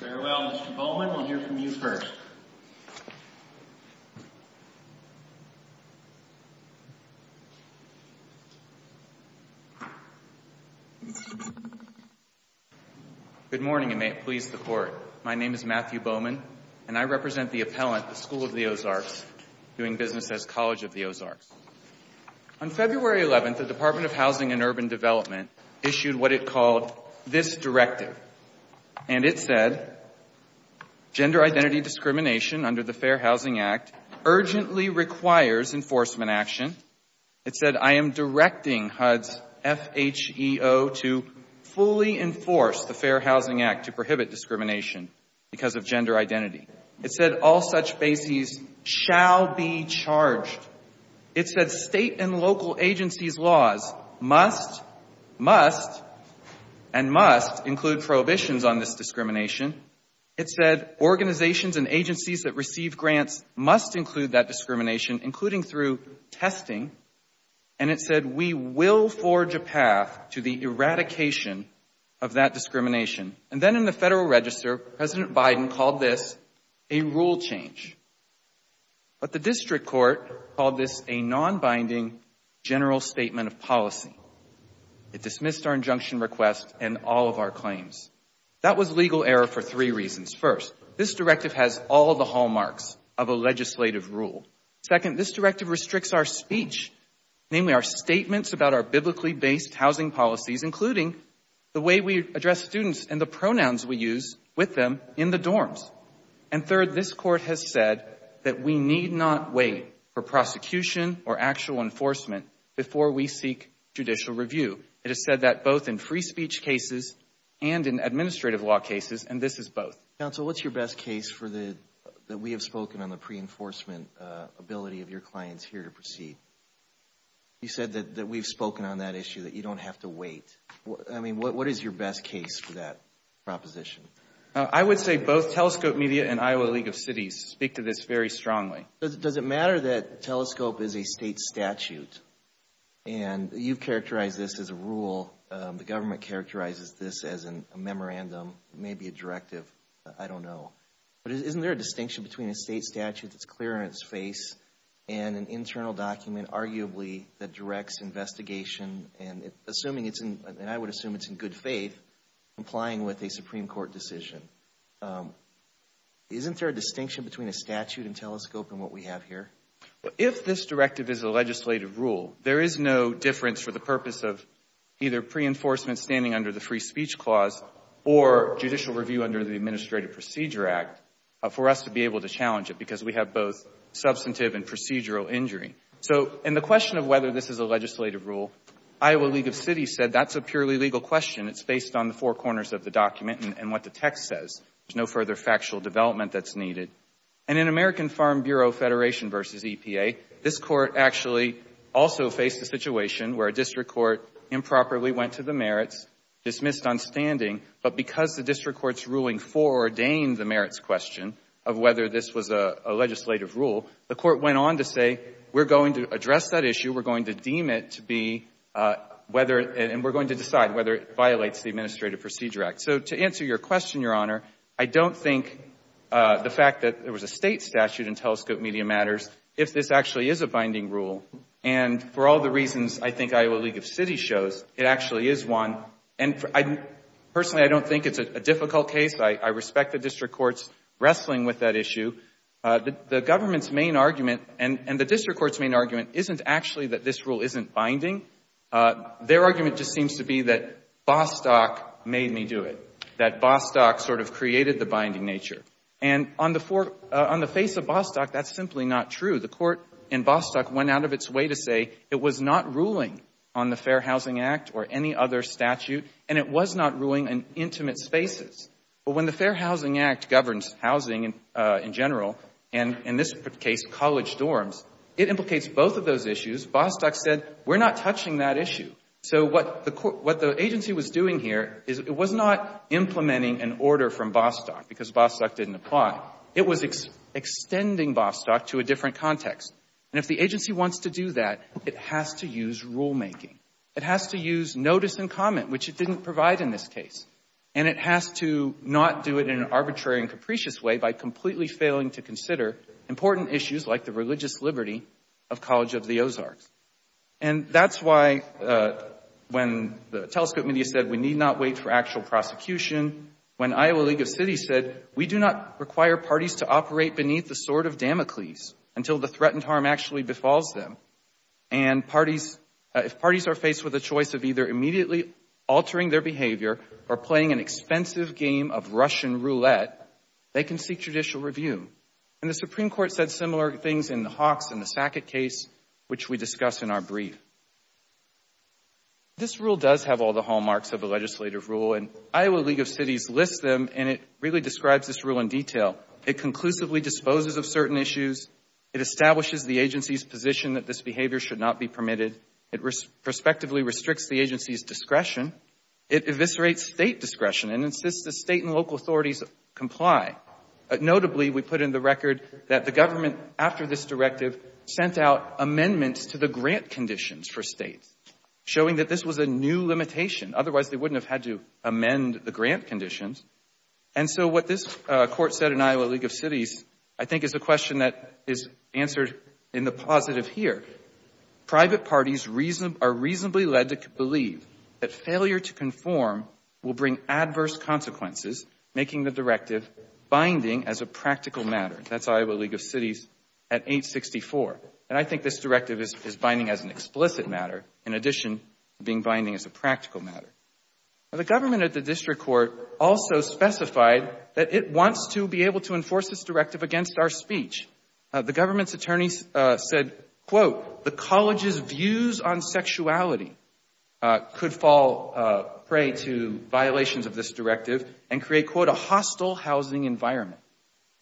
Farewell, Mr. Bowman. We'll hear from you first. Good morning, and may it please the Court. My name is Matthew Bowman, and I represent the appellant, the School of the Ozarks, doing business as College of the Ozarks. On February 11th, the Department of Housing and Urban Development issued what it called this directive, and it said gender identity discrimination under the Fair Housing Act urgently requires enforcement action. It said, I am directing HUD's FHEO to fully enforce the Fair Housing Act to prohibit discrimination because of gender identity. It said all such bases shall be charged. It said state and local agencies' laws must, must and must include prohibitions on this discrimination. It said organizations and agencies that receive grants must include that discrimination, including through testing. And it said we will forge a path to the eradication of that discrimination. And then in the Federal Register, President Biden called this a rule change. But the District Court called this a non-binding general statement of policy. It dismissed our injunction request and all of our claims. That was legal error for three reasons. First, this directive has all the hallmarks of a legislative rule. Second, this directive restricts our speech, namely our statements about our biblically-based housing policies, including the way we address students and the pronouns we use with them in the dorms. And third, this Court has said that we need not wait for prosecution or actual enforcement before we seek judicial review. It has said that both in free speech cases and in administrative law cases, and this is both. Counsel, what's your best case for the, that we have spoken on the pre-enforcement ability of your clients here to proceed? You said that we've spoken on that issue, that you don't have to wait. I mean, what is your best case for that proposition? I would say both Telescope Media and Iowa League of Cities speak to this very strongly. Does it matter that Telescope is a state statute? And you've characterized this as a rule. The government characterizes this as a memorandum, maybe a directive. I don't know. But isn't there a distinction between a state statute that's clear on its face and an internal document, arguably, that directs investigation and assuming it's in, and I would assume it's in good faith, complying with a Supreme Court decision? Isn't there a distinction between a statute and Telescope and what we have here? If this directive is a legislative rule, there is no difference for the purpose of either pre-enforcement standing under the Free Speech Clause or judicial review under the Administrative Procedure Act for us to be able to challenge it because we have both substantive and procedural injury. So in the question of whether this is a legislative rule, Iowa League of Cities said that's a purely legal question. It's based on the four corners of the document and what the text says. There's no further factual development that's needed. And in American Farm Bureau Federation v. EPA, this court actually also faced a situation where a district court improperly went to the merits, dismissed on standing, but because the district court's ruling foreordained the merits question of whether this was a legislative rule, the court went on to say we're going to address that issue. We're going to deem it to be whether and we're going to decide whether it violates the Administrative Procedure Act. So to answer your question, Your Honor, I don't think the fact that there was a state statute in Telescope Media Matters, if this actually is a binding rule, and for all the reasons I think Iowa League of Cities shows, it actually is one. And personally, I don't think it's a difficult case. I respect the district courts wrestling with that issue. The government's main argument and the district court's main argument isn't actually that this rule isn't binding. Their argument just seems to be that Bostock made me do it, that Bostock sort of created the binding nature. And on the face of Bostock, that's simply not true. The court in Bostock went out of its way to say it was not ruling on the Fair Housing Act or any other statute and it was not ruling on intimate spaces. But when the Fair Housing Act governs housing in general, and in this case college dorms, it implicates both of those issues. Bostock said we're not touching that issue. So what the agency was doing here is it was not implementing an order from Bostock because Bostock didn't apply. It was extending Bostock to a different context. And if the agency wants to do that, it has to use rulemaking. It has to use notice and comment, which it didn't provide in this case. And it has to not do it in an arbitrary and capricious way by completely failing to consider important issues like the religious liberty of College of the Ozarks. And that's why when the telescope media said we need not wait for actual prosecution, when Iowa League of Cities said we do not require parties to operate beneath the sword of Damocles until the threatened harm actually befalls them. And if parties are faced with a choice of either immediately altering their behavior or playing an expensive game of Russian roulette, they can seek judicial review. And the Supreme Court said similar things in the Hawks and the Sackett case, which we discuss in our brief. This rule does have all the hallmarks of a legislative rule and Iowa League of Cities lists them and it really describes this rule in detail. It conclusively disposes of certain issues. It establishes the agency's position that this behavior should not be permitted. It prospectively restricts the agency's discretion. It eviscerates State discretion and insists that State and local authorities comply. Notably, we put in the record that the government, after this directive, sent out amendments to the grant conditions for States, showing that this was a new limitation. Otherwise, they wouldn't have had to amend the grant conditions. And so what this court said in Iowa League of Cities, I think, is a question that is answered in the positive here. Private parties are reasonably led to believe that failure to conform will bring adverse consequences, making the directive binding as a practical matter. That's Iowa League of Cities at 864. And I think this directive is binding as an explicit matter, in addition to being binding as a practical matter. The government at the district court also specified that it wants to be able to enforce this directive against our speech. The government's attorney said, quote, the college's views on sexuality could fall prey to violations of this directive and create, quote, a hostile housing environment.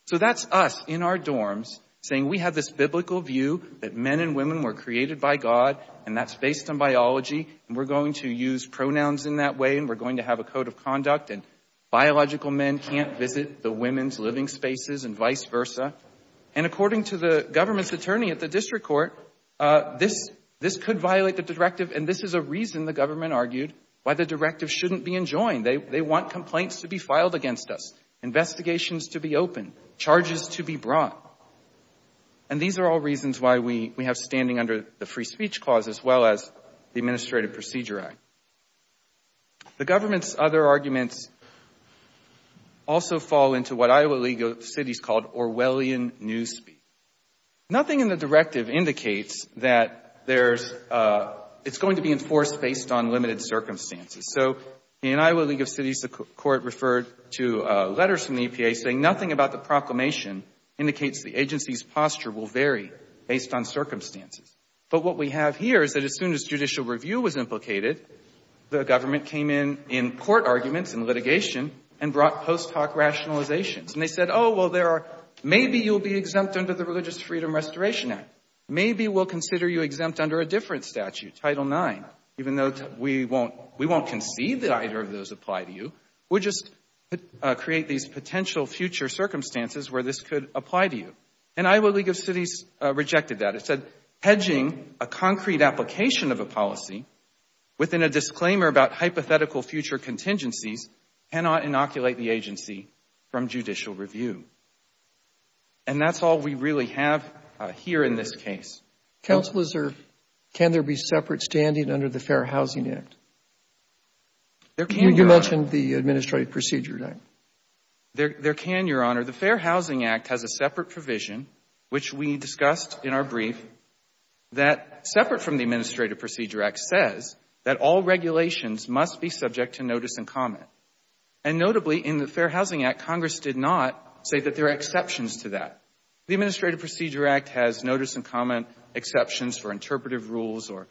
So that's us in our dorms saying we have this biblical view that men and women were created by God, and that's based on biology. And we're going to use pronouns in that way, and we're going to have a code of conduct. And biological men can't visit the women's living spaces and vice versa. And according to the government's attorney at the district court, this could violate the directive. And this is a reason, the government argued, why the directive shouldn't be enjoined. They want complaints to be filed against us, investigations to be opened, charges to be brought. And these are all reasons why we have standing under the Free Speech Clause as well as the Administrative Procedure Act. The government's other arguments also fall into what Iowa League of Cities called Orwellian Newspeak. Nothing in the directive indicates that it's going to be enforced based on limited circumstances. So in Iowa League of Cities, the court referred to letters from the EPA saying nothing about the proclamation indicates the agency's posture will vary based on circumstances. But what we have here is that as soon as judicial review was implicated, the government came in in court arguments and litigation and brought post hoc rationalizations. And they said, oh, well, maybe you'll be exempt under the Religious Freedom Restoration Act. Maybe we'll consider you exempt under a different statute, Title IX, even though we won't concede that either of those apply to you. We'll just create these potential future circumstances where this could apply to you. And Iowa League of Cities rejected that. It said hedging a concrete application of a policy within a disclaimer about hypothetical future contingencies cannot inoculate the agency from judicial review. And that's all we really have here in this case. Roberts. Counsel, is there, can there be separate standing under the Fair Housing Act? There can, Your Honor. You mentioned the Administrative Procedure Act. There can, Your Honor. The Fair Housing Act has a separate provision, which we discussed in our brief, that separate from the Administrative Procedure Act says that all regulations must be subject to notice and comment. And notably, in the Fair Housing Act, Congress did not say that there are exceptions to that. The Administrative Procedure Act has notice and comment exceptions for interpretive rules or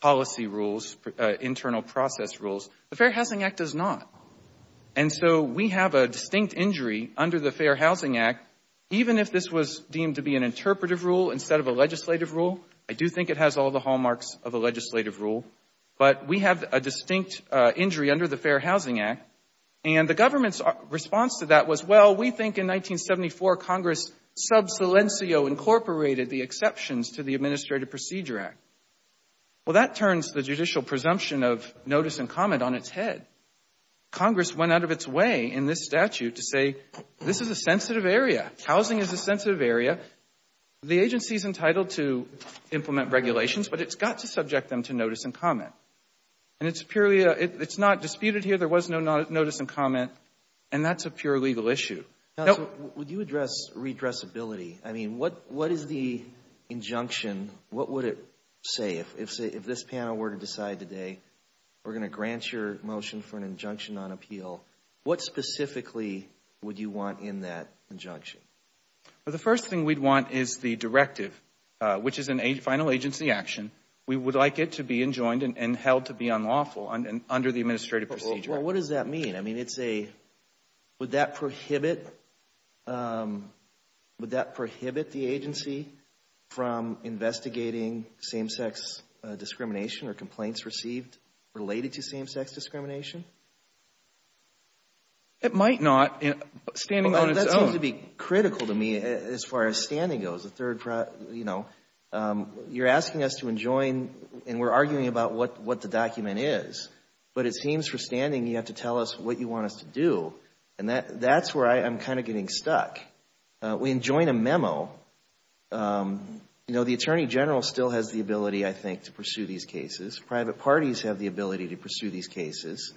policy rules, internal process rules. The Fair Housing Act does not. And so we have a distinct injury under the Fair Housing Act, even if this was deemed to be an interpretive rule instead of a legislative rule. I do think it has all the hallmarks of a legislative rule. But we have a distinct injury under the Fair Housing Act. And the government's response to that was, well, we think in 1974 Congress sub silencio incorporated the exceptions to the Administrative Procedure Act. Well, that turns the judicial presumption of notice and comment on its head. Congress went out of its way in this statute to say this is a sensitive area. Housing is a sensitive area. The agency is entitled to implement regulations, but it's got to subject them to notice and comment. And it's purely a, it's not disputed here. There was no notice and comment. And that's a pure legal issue. Counsel, would you address redressability? I mean, what is the injunction? What would it say if this panel were to decide today we're going to grant your motion for an injunction on appeal? What specifically would you want in that injunction? Well, the first thing we'd want is the directive, which is a final agency action. We would like it to be enjoined and held to be unlawful under the Administrative Procedure Act. Well, what does that mean? I mean, it's a, would that prohibit, would that prohibit the agency from investigating same-sex discrimination or complaints received related to same-sex discrimination? It might not. Standing on its own. Well, that seems to be critical to me as far as standing goes. The third, you know, you're asking us to enjoin and we're arguing about what the document is. But it seems for standing you have to tell us what you want us to do. And that's where I'm kind of getting stuck. We enjoin a memo. You know, the Attorney General still has the ability, I think, to pursue these cases. Private parties have the ability to pursue these cases.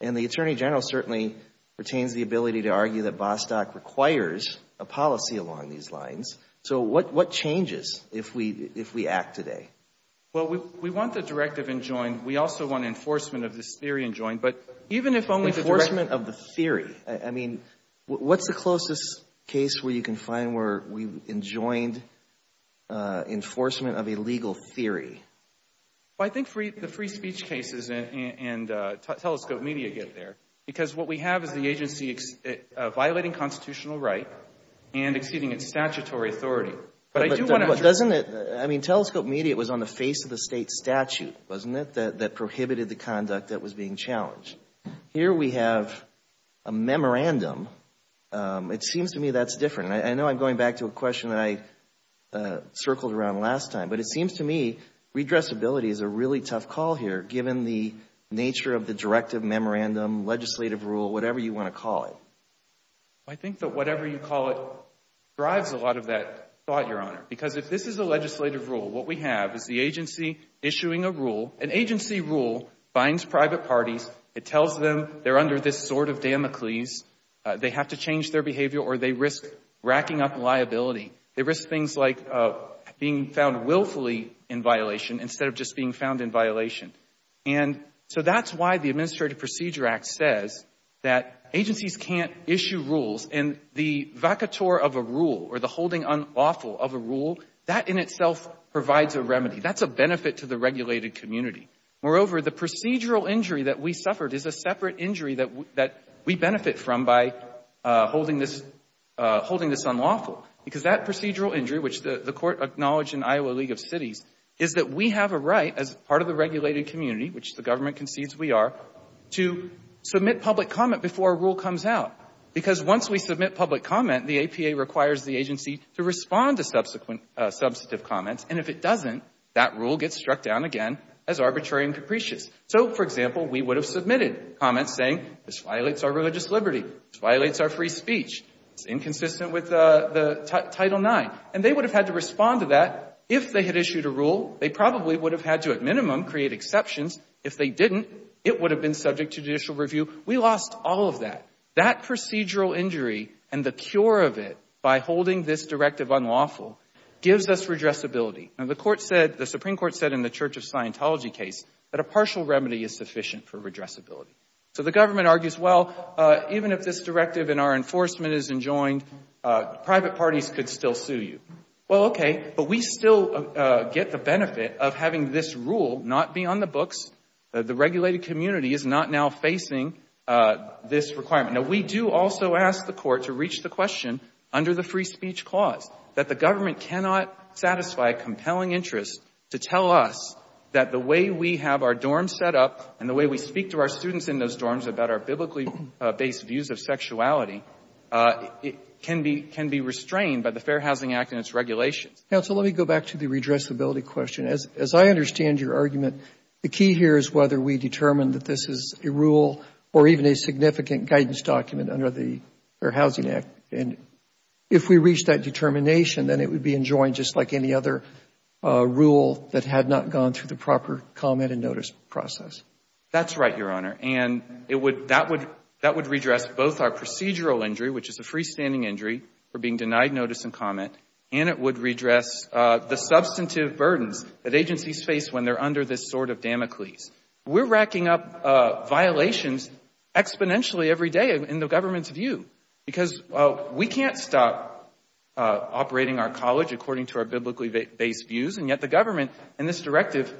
And the Attorney General certainly retains the ability to argue that Bostock requires a policy along these lines. So what changes if we act today? Well, we want the directive enjoined. We also want enforcement of this theory enjoined. But even if only the directive. Enforcement of the theory. I mean, what's the closest case where you can find where we've enjoined enforcement of a legal theory? Well, I think the free speech cases and telescope media get there. Because what we have is the agency violating constitutional right and exceeding its statutory authority. But I do want to address. But doesn't it, I mean, telescope media was on the face of the state statute, wasn't it, that prohibited the conduct that was being challenged. Here we have a memorandum. It seems to me that's different. And I know I'm going back to a question that I circled around last time. But it seems to me redressability is a really tough call here, given the nature of the directive, memorandum, legislative rule, whatever you want to call it. I think that whatever you call it drives a lot of that thought, Your Honor. Because if this is a legislative rule, what we have is the agency issuing a rule. An agency rule binds private parties. It tells them they're under this sort of Damocles. They have to change their behavior or they risk racking up liability. They risk things like being found willfully in violation instead of just being found in violation. And so that's why the Administrative Procedure Act says that agencies can't issue rules. And the vacatur of a rule or the holding unlawful of a rule, that in itself provides a remedy. That's a benefit to the regulated community. Moreover, the procedural injury that we suffered is a separate injury that we benefit from by holding this unlawful. Because that procedural injury, which the court acknowledged in Iowa League of Cities, is that we have a right as part of the regulated community, which the government concedes we are, to submit public comment before a rule comes out. Because once we submit public comment, the APA requires the agency to respond to subsequent substantive comments. And if it doesn't, that rule gets struck down again as arbitrary and capricious. So, for example, we would have submitted comments saying this violates our religious liberty. This violates our free speech. It's inconsistent with Title IX. And they would have had to respond to that if they had issued a rule. They probably would have had to, at minimum, create exceptions. If they didn't, it would have been subject to judicial review. We lost all of that. That procedural injury and the cure of it by holding this directive unlawful gives us redressability. Now, the Supreme Court said in the Church of Scientology case that a partial remedy is sufficient for redressability. So the government argues, well, even if this directive in our enforcement isn't joined, private parties could still sue you. Well, okay, but we still get the benefit of having this rule not be on the books. The regulated community is not now facing this requirement. Now, we do also ask the court to reach the question under the free speech clause, that the government cannot satisfy a compelling interest to tell us that the way we have our dorms set up and the way we speak to our students in those dorms about our biblically-based views of sexuality can be restrained by the Fair Housing Act and its regulations. Counsel, let me go back to the redressability question. As I understand your argument, the key here is whether we determine that this is a rule or even a significant guidance document under the Fair Housing Act. And if we reach that determination, then it would be enjoined just like any other rule that had not gone through the proper comment and notice process. That's right, Your Honor. And that would redress both our procedural injury, which is a freestanding injury for being denied notice and comment, and it would redress the substantive burdens that agencies face when they're under this sort of Damocles. We're racking up violations exponentially every day in the government's view, because we can't stop operating our college according to our biblically-based views, and yet the government in this directive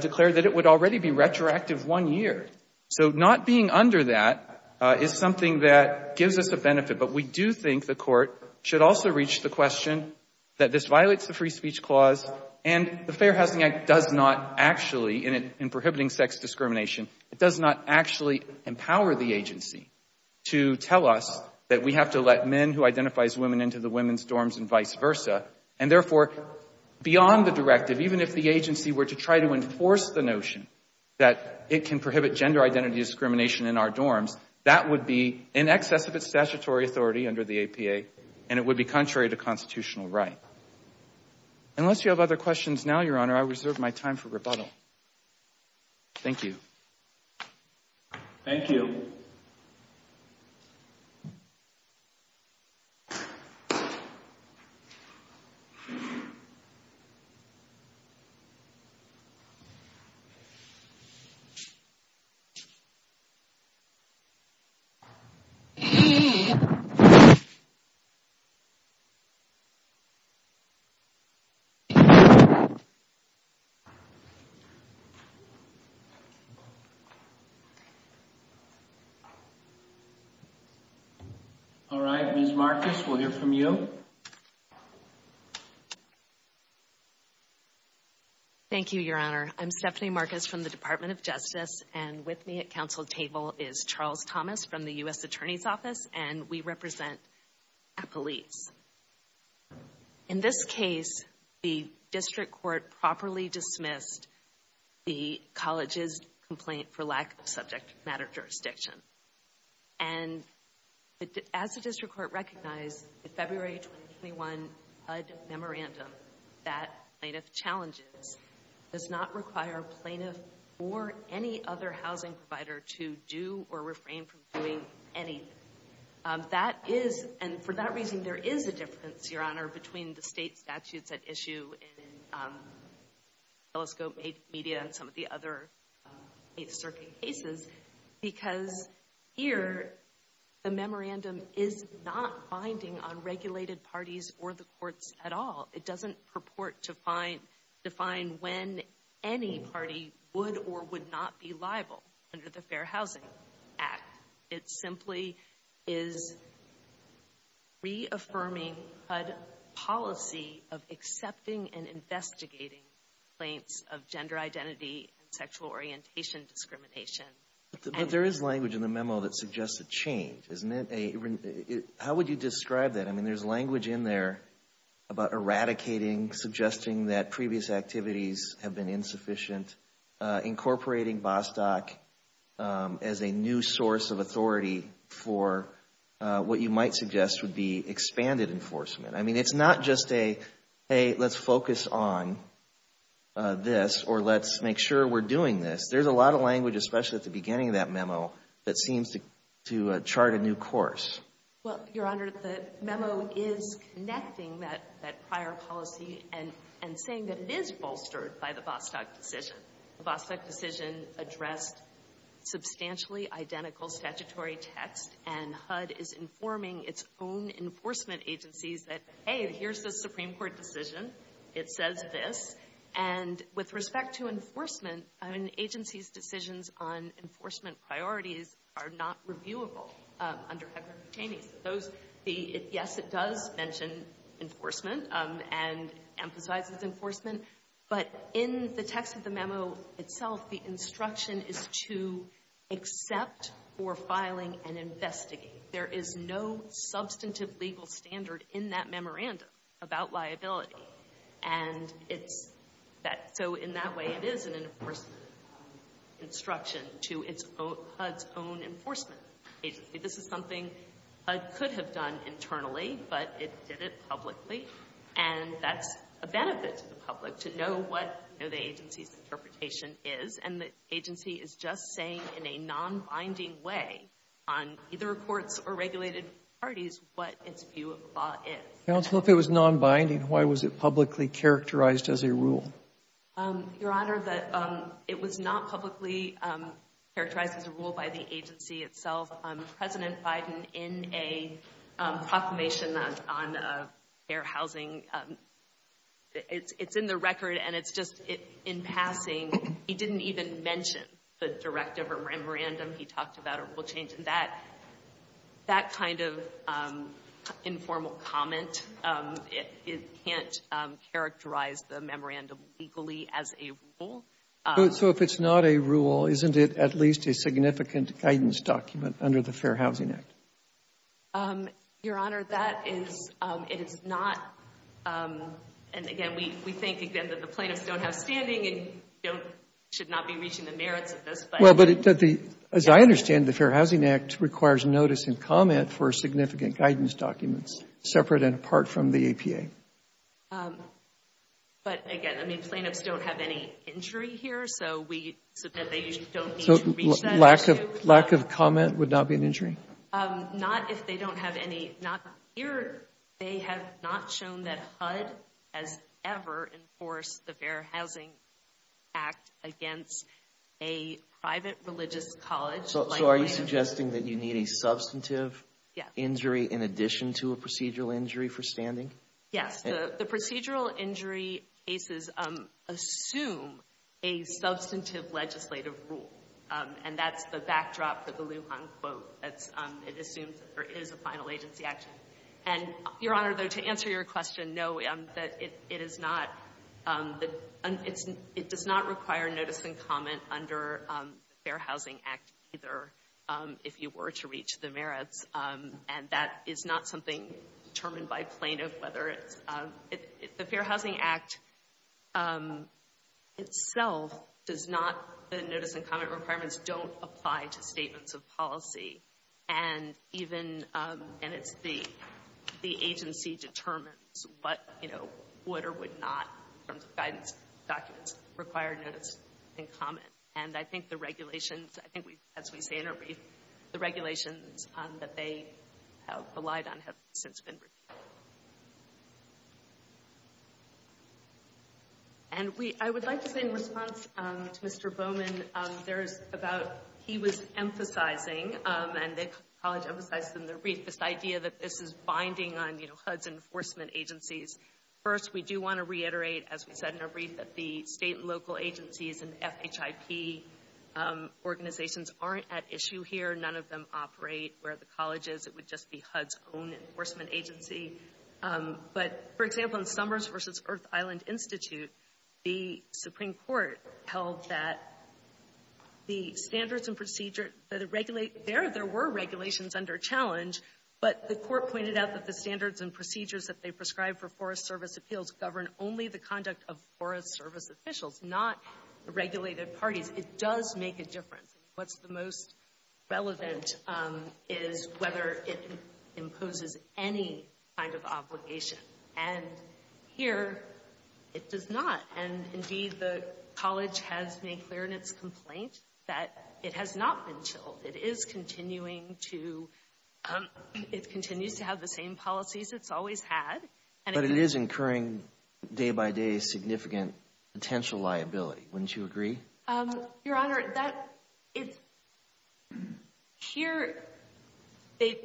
declared that it would already be retroactive one year. So not being under that is something that gives us a benefit, but we do think the court should also reach the question that this violates the free speech clause and the Fair Housing Act does not actually, in prohibiting sex discrimination, it does not actually empower the agency to tell us that we have to let men who identify as women into the women's dorms and vice versa. And therefore, beyond the directive, even if the agency were to try to enforce the notion that it can prohibit gender identity discrimination in our dorms, that would be in excess of its statutory authority under the APA, and it would be contrary to constitutional right. Unless you have other questions now, Your Honor, I reserve my time for rebuttal. Thank you. Thank you. Thank you. All right. Ms. Marcus, we'll hear from you. Thank you, Your Honor. I'm Stephanie Marcus from the Department of Justice, and with me at council table is Charles Thomas from the U.S. Attorney's Office, and we represent police. In this case, the district court properly dismissed the college's complaint for lack of subject matter jurisdiction. And as the district court recognized, the February 2021 HUD memorandum that plaintiff challenges does not require a plaintiff or any other housing provider to do or refrain from doing anything. And for that reason, there is a difference, Your Honor, between the state statutes at issue in Telescope Media and some of the other eight circuit cases, because here the memorandum is not binding on regulated parties or the courts at all. It doesn't purport to define when any party would or would not be liable under the Fair Housing Act. It simply is reaffirming HUD policy of accepting and investigating complaints of gender identity and sexual orientation discrimination. But there is language in the memo that suggests a change, isn't it? How would you describe that? I mean, there's language in there about eradicating, suggesting that previous activities have been insufficient, incorporating Bostock as a new source of authority for what you might suggest would be expanded enforcement. I mean, it's not just a, hey, let's focus on this or let's make sure we're doing this. There's a lot of language, especially at the beginning of that memo, that seems to chart a new course. Well, Your Honor, the memo is connecting that prior policy and saying that it is bolstered by the Bostock decision. The Bostock decision addressed substantially identical statutory text, and HUD is informing its own enforcement agencies that, hey, here's the Supreme Court decision. It says this. And with respect to enforcement, an agency's decisions on enforcement priorities are not reviewable under HUD-granted attainees. Those, yes, it does mention enforcement and emphasizes enforcement. But in the text of the memo itself, the instruction is to accept for filing and investigate. There is no substantive legal standard in that memorandum about liability. And it's that so in that way it is an enforcement instruction to its own, HUD's own enforcement agency. This is something HUD could have done internally, but it did it publicly. And that's a benefit to the public to know what the agency's interpretation is. And the agency is just saying in a nonbinding way on either courts or regulated parties what its view of the law is. Sotomayor, if it was nonbinding, why was it publicly characterized as a rule? Your Honor, it was not publicly characterized as a rule by the agency itself. President Biden, in a proclamation on fair housing, it's in the record and it's just in passing. He didn't even mention the directive or memorandum he talked about or rule change. That kind of informal comment, it can't characterize the memorandum legally as a rule. So if it's not a rule, isn't it at least a significant guidance document under the Fair Housing Act? Your Honor, that is not, and again, we think again that the plaintiffs don't have standing and should not be reaching the merits of this. Well, but as I understand it, the Fair Housing Act requires notice and comment for significant guidance documents separate and apart from the APA. But again, I mean, plaintiffs don't have any injury here, so we, so they don't need to reach that. Lack of comment would not be an injury? Not if they don't have any, not here. They have not shown that HUD has ever enforced the Fair Housing Act against a private religious college. So are you suggesting that you need a substantive injury in addition to a procedural injury for standing? Yes, the procedural injury cases assume a substantive legislative rule. And that's the backdrop for the Lujan quote. It assumes that there is a final agency action. And, Your Honor, though, to answer your question, no, it is not. It does not require notice and comment under the Fair Housing Act either, if you were to reach the merits. And that is not something determined by plaintiff, whether it's, the Fair Housing Act itself does not, the notice and comment requirements don't apply to statements of policy. And even, and it's the agency determines what, you know, would or would not, in terms of guidance documents, require notice and comment. And I think the regulations, I think we, as we say in our brief, the regulations that they have relied on have since been reviewed. And we, I would like to say in response to Mr. Bowman, there is about, he was emphasizing, and the college emphasized in the brief this idea that this is binding on, you know, HUD's enforcement agencies. First, we do want to reiterate, as we said in our brief, that the state and local agencies and FHIP organizations aren't at issue here. None of them operate where the college is. It would just be HUD's own enforcement agency. But, for example, in Summers v. Earth Island Institute, the Supreme Court held that the standards and procedure, there were regulations under challenge, but the court pointed out that the standards and procedures that they prescribed for Forest Service appeals govern only the conduct of Forest Service officials, not the regulated parties. It does make a difference. What's the most relevant is whether it imposes any kind of obligation. And here, it does not. And, indeed, the college has made clear in its complaint that it has not been chilled. It is continuing to, it continues to have the same policies it's always had. But it is incurring day-by-day significant potential liability. Wouldn't you agree? Your Honor, here, they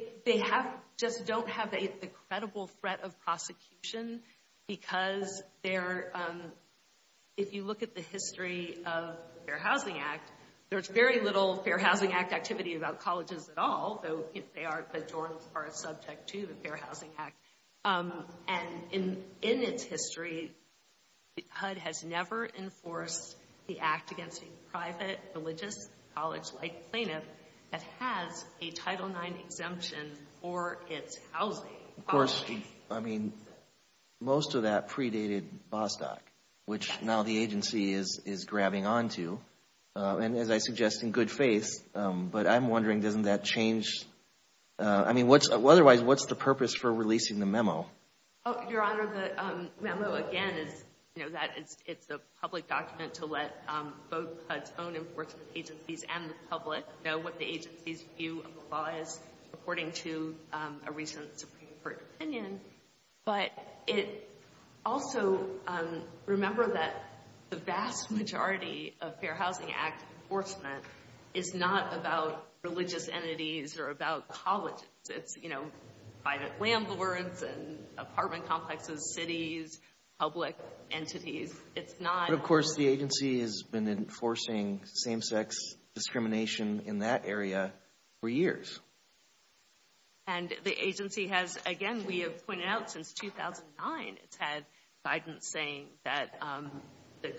just don't have a credible threat of prosecution because if you look at the history of the Fair Housing Act, there's very little Fair Housing Act activity about colleges at all, though the journals are subject to the Fair Housing Act. And in its history, HUD has never enforced the act against a private religious college-like plaintiff that has a Title IX exemption for its housing. Of course, I mean, most of that predated Bostock, which now the agency is grabbing onto, and as I suggest, in good faith. But I'm wondering, doesn't that change, I mean, otherwise, what's the purpose for releasing the memo? Your Honor, the memo, again, is that it's a public document to let both HUD's own enforcement agencies and the public know what the agency's view of the law is, according to a recent Supreme Court opinion. But it also, remember that the vast majority of Fair Housing Act enforcement is not about religious entities or about colleges. It's, you know, private landlords and apartment complexes, cities, public entities. It's not... But of course, the agency has been enforcing same-sex discrimination in that area for years. And the agency has, again, we have pointed out since 2009, it's had guidance saying that the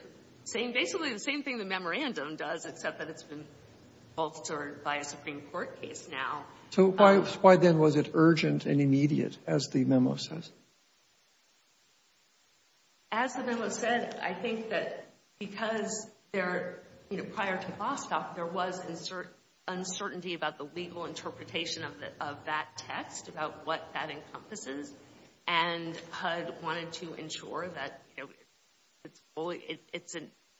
same, basically the same thing the memorandum does, except that it's been altered by a Supreme Court case now. So why then was it urgent and immediate, as the memo says? As the memo said, I think that because there, you know, prior to Bostock, there was uncertainty about the legal interpretation of that text, about what that encompasses. And HUD wanted to ensure that, you know, it's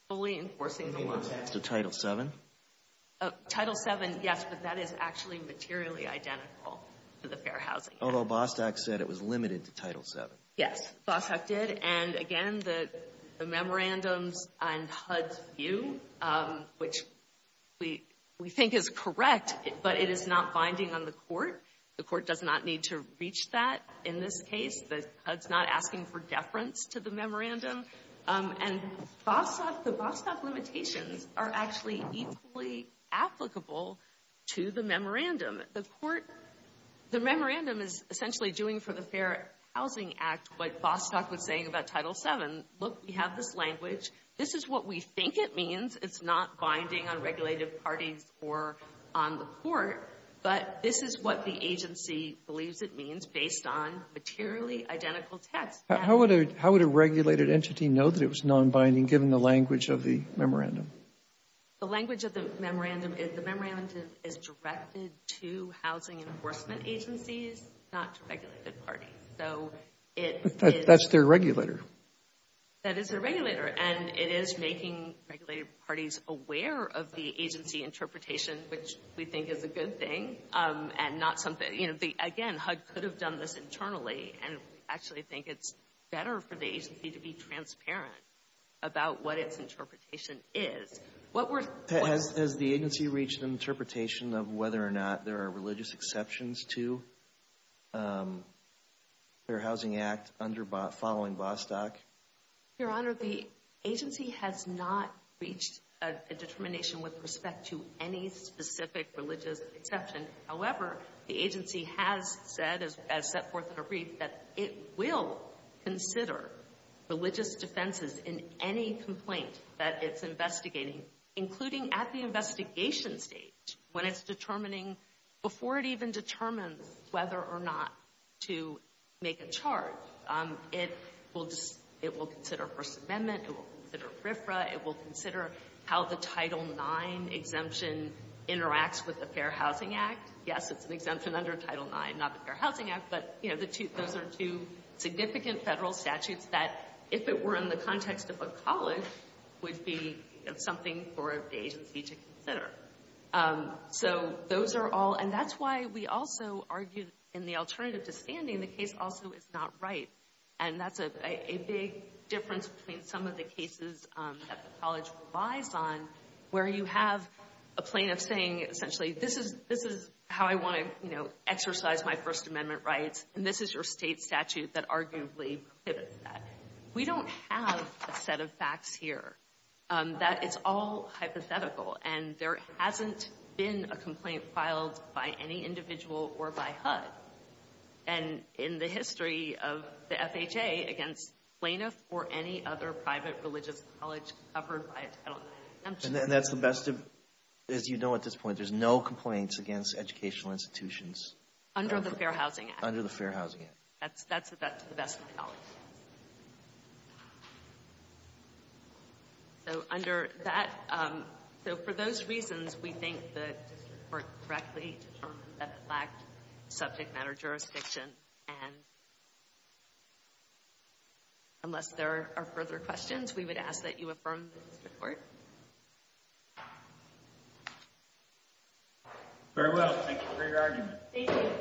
fully enforcing the law. You mean the text of Title VII? Title VII, yes, but that is actually materially identical to the Fair Housing Act. Although Bostock said it was limited to Title VII. Yes, Bostock did. And again, the memorandums and HUD's view, which we think is correct, but it is not binding on the court. The court does not need to reach that in this case. HUD's not asking for deference to the memorandum. And the Bostock limitations are actually equally applicable to the memorandum. The memorandum is essentially doing for the Fair Housing Act what Bostock was saying about Title VII. Look, we have this language. This is what we think it means. It's not binding on regulated parties or on the court, but this is what the agency believes it means based on materially identical text. How would a regulated entity know that it was nonbinding, given the language of the memorandum? The language of the memorandum is directed to housing enforcement agencies, not to regulated parties. That's their regulator. That is their regulator, and it is making regulated parties aware of the agency interpretation, which we think is a good thing. Again, HUD could have done this internally, and we actually think it's better for the Has the agency reached an interpretation of whether or not there are religious exceptions to the Fair Housing Act following Bostock? Your Honor, the agency has not reached a determination with respect to any specific religious exception. However, the agency has said, as set forth in a brief, that it will consider religious defenses in any complaint that it's investigating, including at the investigation stage when it's determining, before it even determines whether or not to make a charge. It will consider First Amendment. It will consider FERFRA. It will consider how the Title IX exemption interacts with the Fair Housing Act. Yes, it's an exemption under Title IX, not the Fair Housing Act, but, you know, those are two significant federal statutes that, if it were in the context of a college, would be something for the agency to consider. So those are all, and that's why we also argue in the alternative to standing, the case also is not right. And that's a big difference between some of the cases that the college relies on, where you have a plaintiff saying, essentially, this is how I want to exercise my rights, and this is your state statute that arguably prohibits that. We don't have a set of facts here. It's all hypothetical, and there hasn't been a complaint filed by any individual or by HUD. And in the history of the FHA, against plaintiff or any other private religious college covered by a Title IX exemption. And that's the best of, as you know at this point, there's no complaints against educational institutions. Under the Fair Housing Act. Under the Fair Housing Act. That's to the best of my knowledge. So under that, so for those reasons, we think that this would work correctly to determine that it lacked subject matter jurisdiction. And unless there are further questions, we would ask that you affirm this report. Very well. Thank you. Thank you, Mr. Gardner. Thank you.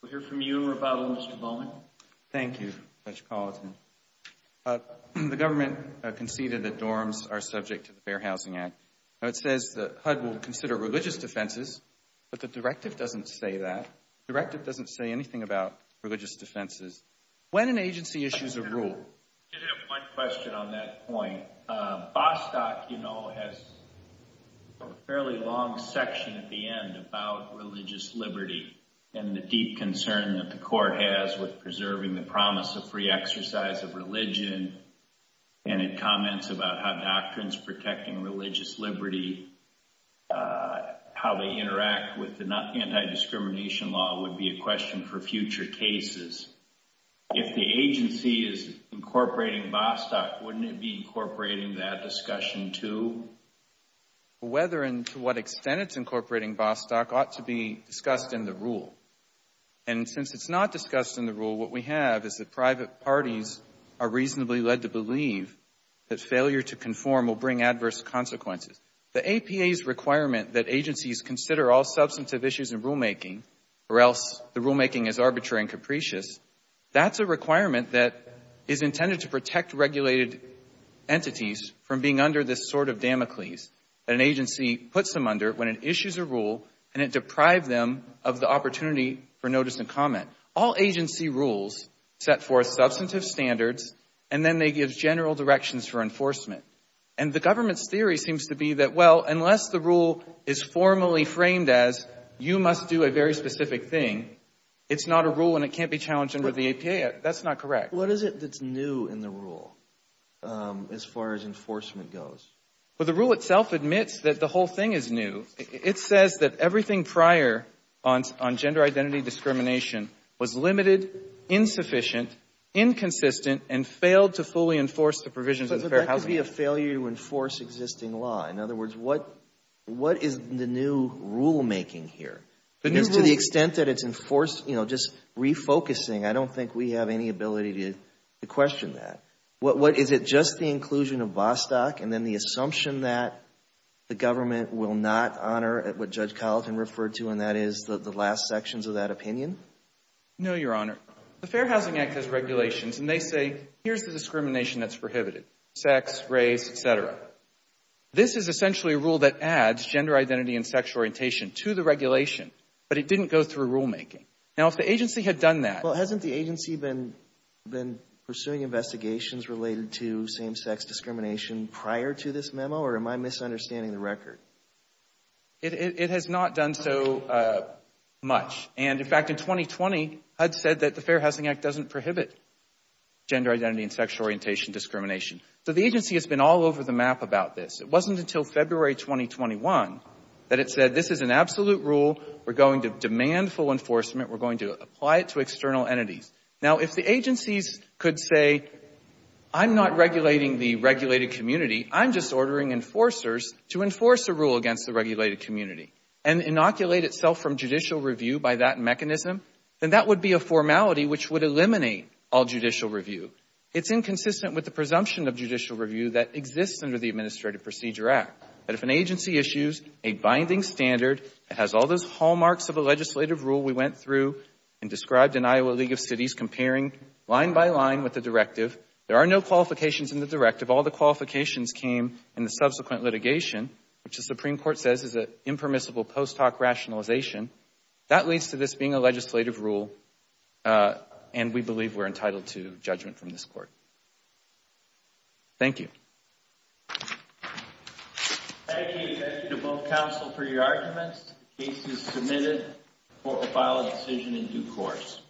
We'll hear from you, Rebuttal, Mr. Bowman. Thank you, Judge Palatin. The government conceded that dorms are subject to the Fair Housing Act. Now it says that HUD will consider religious defenses, but the directive doesn't say that. The directive doesn't say anything about religious defenses. When an agency issues a rule. I did have one question on that point. Bostock, you know, has a fairly long section at the end about religious liberty and the deep concern that the court has with preserving the promise of free exercise of religion. And it comments about how doctrines protecting religious liberty, how they interact with the anti-discrimination law would be a question for future cases. If the agency is incorporating Bostock, wouldn't it be incorporating that discussion too? Whether and to what extent it's incorporating Bostock ought to be discussed in the rule. And since it's not discussed in the rule, what we have is that private parties are reasonably led to believe that failure to conform will bring adverse consequences. The APA's requirement that agencies consider all substantive issues in That's a requirement that is intended to protect regulated entities from being under this sort of Damocles that an agency puts them under when it issues a rule and it deprives them of the opportunity for notice and comment. All agency rules set forth substantive standards and then they give general directions for enforcement. And the government's theory seems to be that, well, unless the rule is formally can't be challenged under the APA. That's not correct. What is it that's new in the rule as far as enforcement goes? Well, the rule itself admits that the whole thing is new. It says that everything prior on gender identity discrimination was limited, insufficient, inconsistent, and failed to fully enforce the provisions of the Fair Housing Act. But that could be a failure to enforce existing law. In other words, what is the new rulemaking here? Because to the extent that it's enforced, you know, just refocusing, I don't think we have any ability to question that. Is it just the inclusion of Vostok and then the assumption that the government will not honor what Judge Colleton referred to and that is the last sections of that opinion? No, Your Honor. The Fair Housing Act has regulations and they say here's the discrimination that's prohibited, sex, race, et cetera. This is essentially a rule that adds gender identity and sexual orientation to the regulation. But it didn't go through rulemaking. Now, if the agency had done that. Well, hasn't the agency been pursuing investigations related to same-sex discrimination prior to this memo or am I misunderstanding the record? It has not done so much. And, in fact, in 2020, HUD said that the Fair Housing Act doesn't prohibit gender identity and sexual orientation discrimination. So the agency has been all over the map about this. It wasn't until February 2021 that it said this is an absolute rule. We're going to demand full enforcement. We're going to apply it to external entities. Now, if the agencies could say I'm not regulating the regulated community, I'm just ordering enforcers to enforce a rule against the regulated community and inoculate itself from judicial review by that mechanism, then that would be a formality which would eliminate all judicial review. It's inconsistent with the presumption of judicial review that exists under the Administrative Procedure Act. But if an agency issues a binding standard, it has all those hallmarks of a legislative rule we went through and described in Iowa League of Cities comparing line by line with the directive. There are no qualifications in the directive. All the qualifications came in the subsequent litigation, which the Supreme Court says is an impermissible post hoc rationalization. That leads to this being a legislative rule and we believe we're entitled to judgment from this court. Thank you. Thank you. Thank you to both counsel for your arguments. The case is submitted. The court will file a decision in due course.